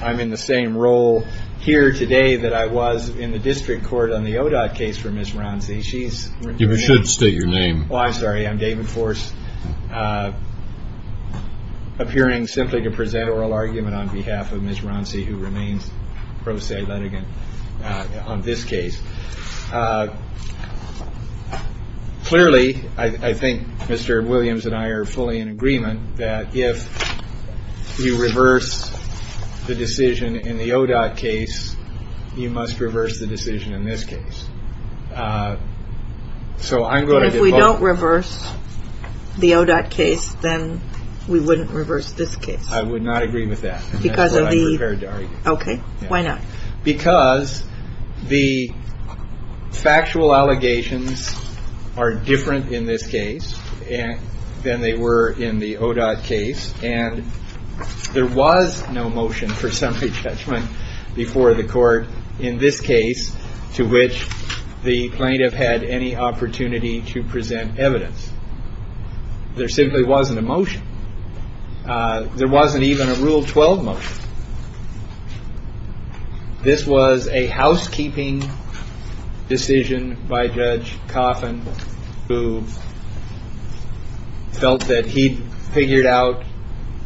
I'm in the same role here today that I was in the district court on the ODOT case for Ms. Wroncy. You should state your name. I'm sorry, I'm David Force, appearing simply to present oral argument on behalf of Ms. Wroncy who remains pro se litigant on this case. Clearly, I think Mr. Williams and I are fully in agreement that if you reverse the decision in the ODOT case, you must reverse the decision in this case. So I'm going to vote. If we don't reverse the ODOT case, then we wouldn't reverse this case. I would not agree with that. That's what I prepared to argue. Okay. Why not? Because the factual allegations are different in this case than they were in the ODOT case. And there was no motion for summary judgment before the court in this case to which the plaintiff had any opportunity to present evidence. There simply wasn't a motion. There wasn't even a Rule 12 motion. This was a housekeeping decision by Judge Coffin who felt that he figured out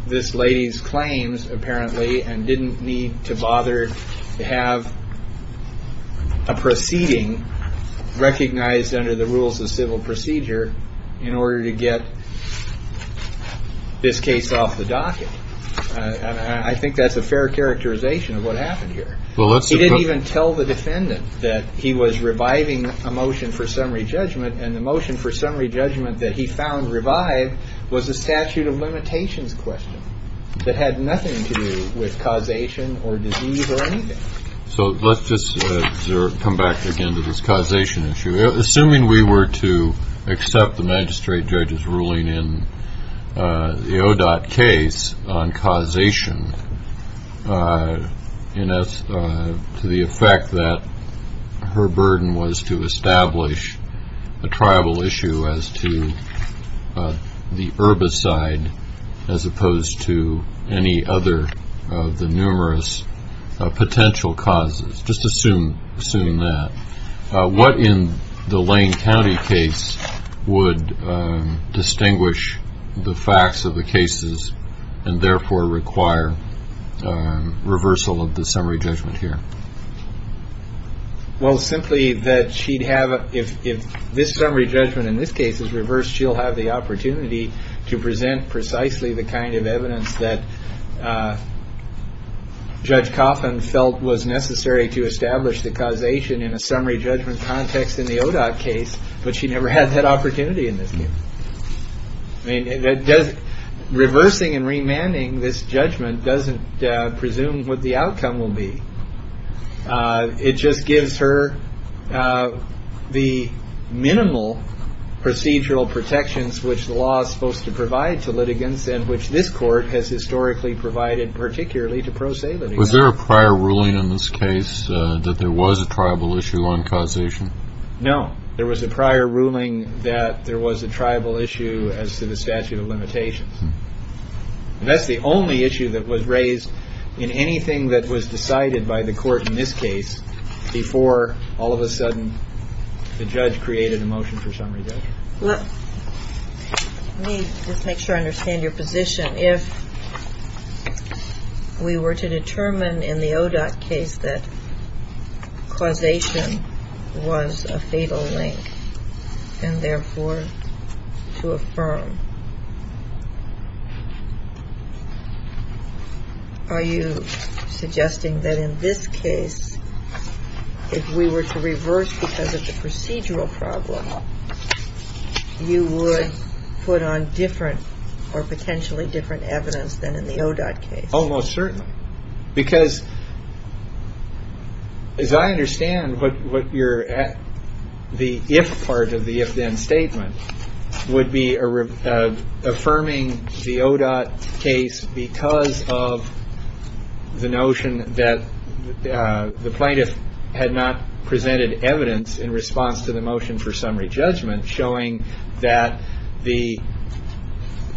this lady's claims apparently and didn't need to bother to have a proceeding recognized under the this case off the docket. I think that's a fair characterization of what happened here. He didn't even tell the defendant that he was reviving a motion for summary judgment and the motion for summary judgment that he found revived was a statute of limitations question that had nothing to do with causation or disease or anything. So let's just come back again to this causation issue. Assuming we were to accept the magistrate judge's ruling in the ODOT case on causation to the effect that her burden was to establish a tribal issue as to the herbicide as opposed to any other of the numerous potential causes, just assuming that. What in the Lane County case would distinguish the facts of the cases and therefore require reversal of the summary judgment here? Well simply that she'd have if this summary judgment in this case is reversed, she'll have the opportunity to present precisely the kind of evidence that Judge Coffin felt was necessary to establish the causation in a summary judgment context in the ODOT case, but she never had that opportunity in this case. Reversing and remanding this judgment doesn't presume what the outcome will be. It just gives her the minimal procedural protections which the law is supposed to provide to litigants and which this court has historically provided particularly to pro se litigants. Was there a prior ruling in this case that there was a tribal issue on causation? No. There was a prior ruling that there was a tribal issue as to the statute of limitations. That's the only issue that was raised in anything that was decided by the court in this case before all of a sudden the judge created a motion for summary judgment. Let me just make sure I understand your position. If we were to determine in the ODOT case that causation was a fatal link and therefore to affirm, are you suggesting that in this case if we were to reverse because of the procedural problem, you would put on different or potentially different evidence than in the ODOT case? Oh, most certainly. Because as I understand what you're at, the if part of the if then statement would be affirming the ODOT case because of the notion that the plaintiff had not presented evidence in response to the motion for summary judgment showing that the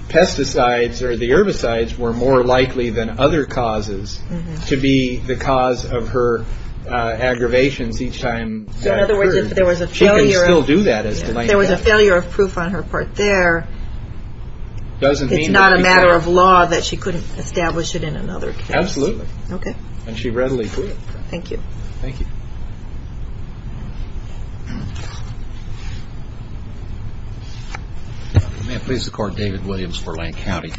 pesticides or the herbicides were more likely than other causes to be the cause of her aggravations each time that occurred. So in other words, if there was a failure of proof on her part there, it's not a matter of law that she couldn't establish it in another case. Absolutely. Okay. And she readily could. Thank you. May it please the court, David Williams for Lane County.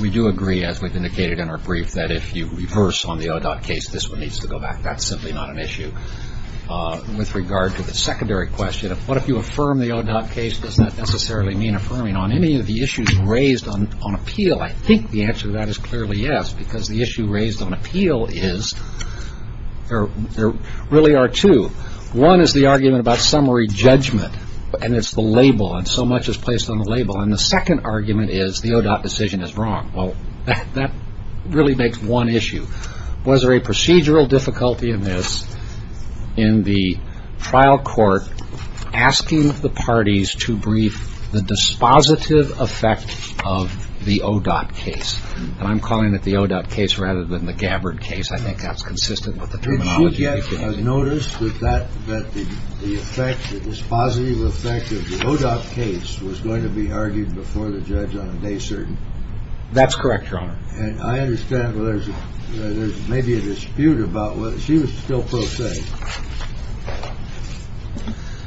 We do agree, as we've indicated in our brief, that if you reverse on the ODOT case, this one needs to go back. That's simply not an issue. With regard to the secondary question, what if you affirm the ODOT case, does that necessarily mean affirming on any of the issues raised on appeal? I think the answer to that is clearly yes because the issue raised on appeal is there really are two. One is the argument about summary judgment, and it's the label, and so much is placed on the label. And the second argument is the ODOT decision is wrong. Well, that really makes one issue. Was there a procedural difficulty in this in the trial court asking the parties to brief the dispositive effect of the ODOT case, and I'm calling it the ODOT case rather than the Gabbard case. I think that's consistent with the terminology. Did you get a notice that the effect, the dispositive effect of the ODOT case was going to be argued before the judge on a day certain? That's correct, Your Honor. And I understand that there's maybe a dispute about whether she was still pro se.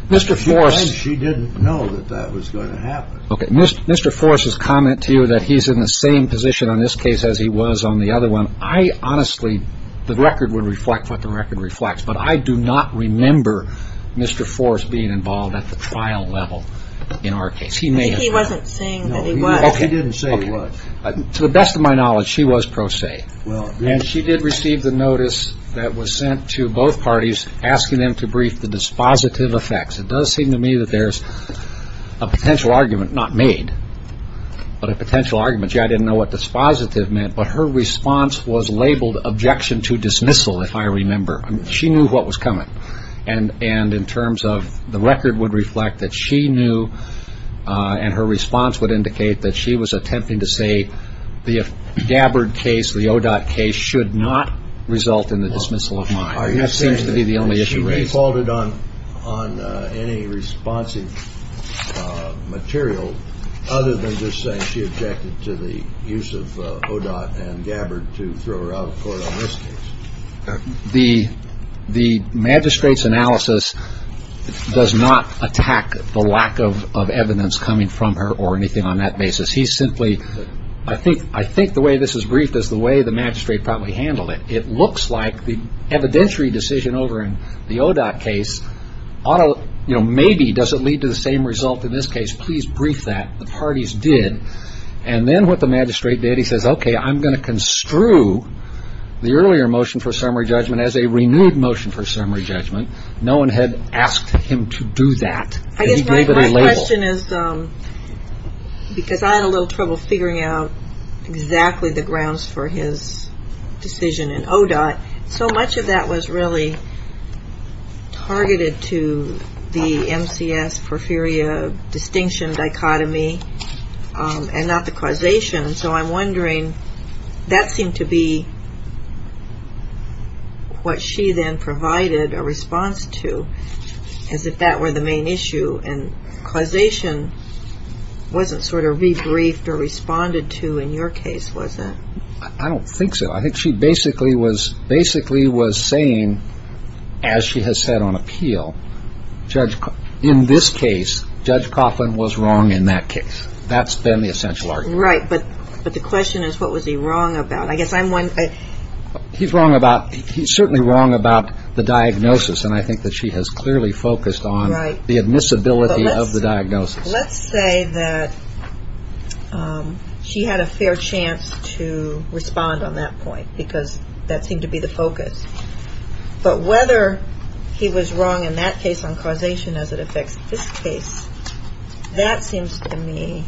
Mr. Forrest. She didn't know that that was going to happen. Mr. Forrest's comment to you that he's in the same position on this case as he was on the other one, I honestly, the record would reflect what the record reflects, but I do not remember Mr. Forrest being involved at the trial level in our case. He may have. I think he wasn't saying that he was. No, he didn't say he was. To the best of my knowledge, she was pro se. And she did receive the notice that was sent to both parties asking them to brief the dispositive effects. It does seem to me that there's a potential argument, not made, but a potential argument. I didn't know what dispositive meant, but her response was labeled objection to dismissal, if I remember. She knew what was coming. And in terms of the record would reflect that she knew and her response would indicate that she was attempting to say the Gabbard case, the ODOT case should not result in the dismissal of mine. That seems to be the only issue raised. The magistrate's analysis does not attack the lack of evidence coming from her or anything on that basis. He's simply, I think, I think the way this is briefed is the way the magistrate probably handled it. It looks like the evidentiary decision over in the ODOT case ought to, you know, maybe does it lead to the same result in this case? Please brief that. The parties did. And then what the magistrate did, he says, okay, I'm going to construe the earlier motion for summary judgment as a renewed motion for summary judgment. No one had asked him to do that. He gave it a label. I guess my question is, because I had a little trouble figuring out exactly the grounds for his decision in ODOT, so much of that was really targeted to the MCS, porphyria distinction dichotomy, and not the causation, so I'm wondering, that seemed to be what she then provided a response to, as if that were the main issue, and causation wasn't sort of rebriefed or responded to in your case, was it? I don't think so. I think she basically was saying, as she has said on appeal, in this case, Judge Coughlin was wrong in that case. That's been the essential argument. Right. But the question is, what was he wrong about? I guess I'm wondering. He's wrong about, he's certainly wrong about the diagnosis, and I think that she has clearly focused on the admissibility of the diagnosis. Let's say that she had a fair chance to respond on that point, because that seemed to be the focus, but whether he was wrong in that case on causation as it affects this case, that seems to me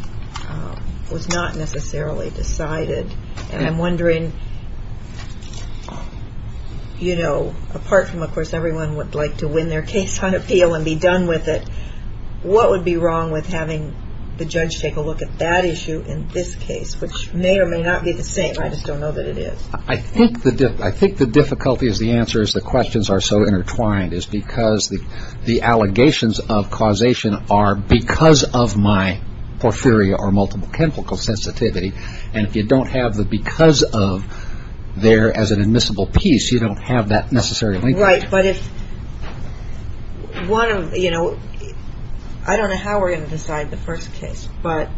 was not necessarily decided, and I'm wondering, you know, apart from of course everyone would like to win their case on appeal and be done with it, what would be wrong with the judge take a look at that issue in this case, which may or may not be the same. I just don't know that it is. I think the difficulty is the answer is the questions are so intertwined, is because the allegations of causation are because of my porphyria or multiple chemical sensitivity, and if you don't have the because of there as an admissible piece, you don't have that necessarily. Right. But if one of, you know, I don't know how we're going to decide the first case, but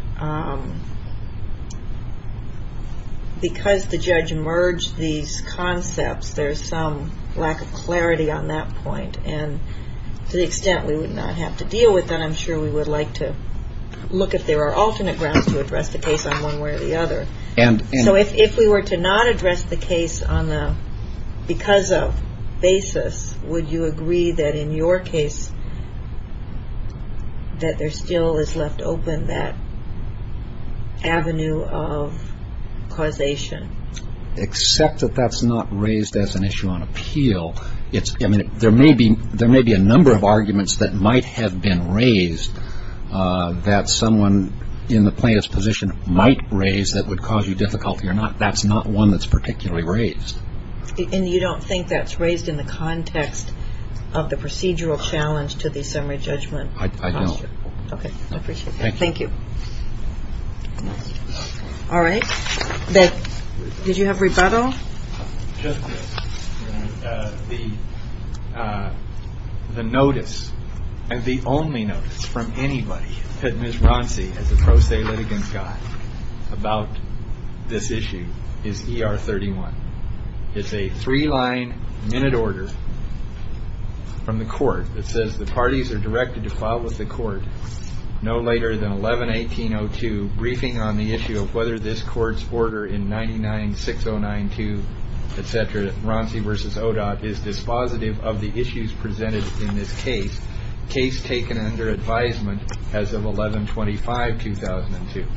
because the judge merged these concepts, there's some lack of clarity on that point, and to the extent we would not have to deal with that, I'm sure we would like to look if there are alternate grounds to address the case on one way or the other. So if we were to not address the case on the because of basis, would you agree that in your case that there still is left open that avenue of causation? Except that that's not raised as an issue on appeal. There may be a number of arguments that might have been raised that someone in the plaintiff's position might raise that would cause you difficulty or not. That's not one that's particularly raised. And you don't think that's raised in the context of the procedural challenge to the summary judgment? I don't. Okay. I appreciate that. Thank you. All right. Did you have rebuttal? Just this. The notice, the only notice from anybody that Ms. Ronci, as a pro se litigant, got to the about this issue is ER 31. It's a three-line minute order from the court that says the parties are directed to file with the court no later than 11-18-02, briefing on the issue of whether this court's order in 99-609-2, et cetera, Ronci versus ODOT is dispositive of the issues presented in this case, case taken under advisement as of 11-25-2002.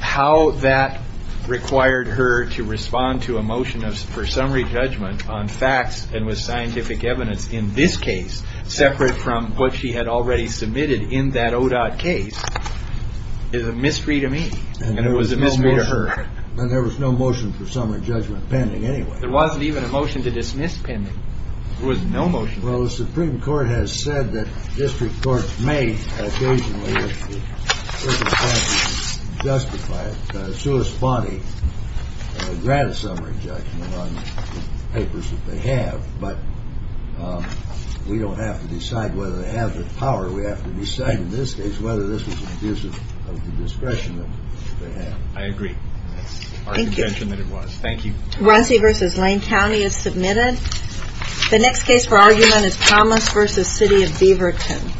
How that required her to respond to a motion for summary judgment on facts and with scientific evidence in this case, separate from what she had already submitted in that ODOT case, is a mystery to me. And it was a mystery to her. And there was no motion for summary judgment pending, anyway. There wasn't even a motion to dismiss pending. There was no motion. Well, the Supreme Court has said that district courts may, occasionally, if they have to justify it, corresponding a grant summary judgment on papers that they have. But we don't have to decide whether they have the power. We have to decide, in this case, whether this was an abuse of the discretion that they have. I agree. Thank you. Our convention that it was. Thank you. Ronci versus Lane County is submitted. The next case for argument is Thomas versus City of Beaverton.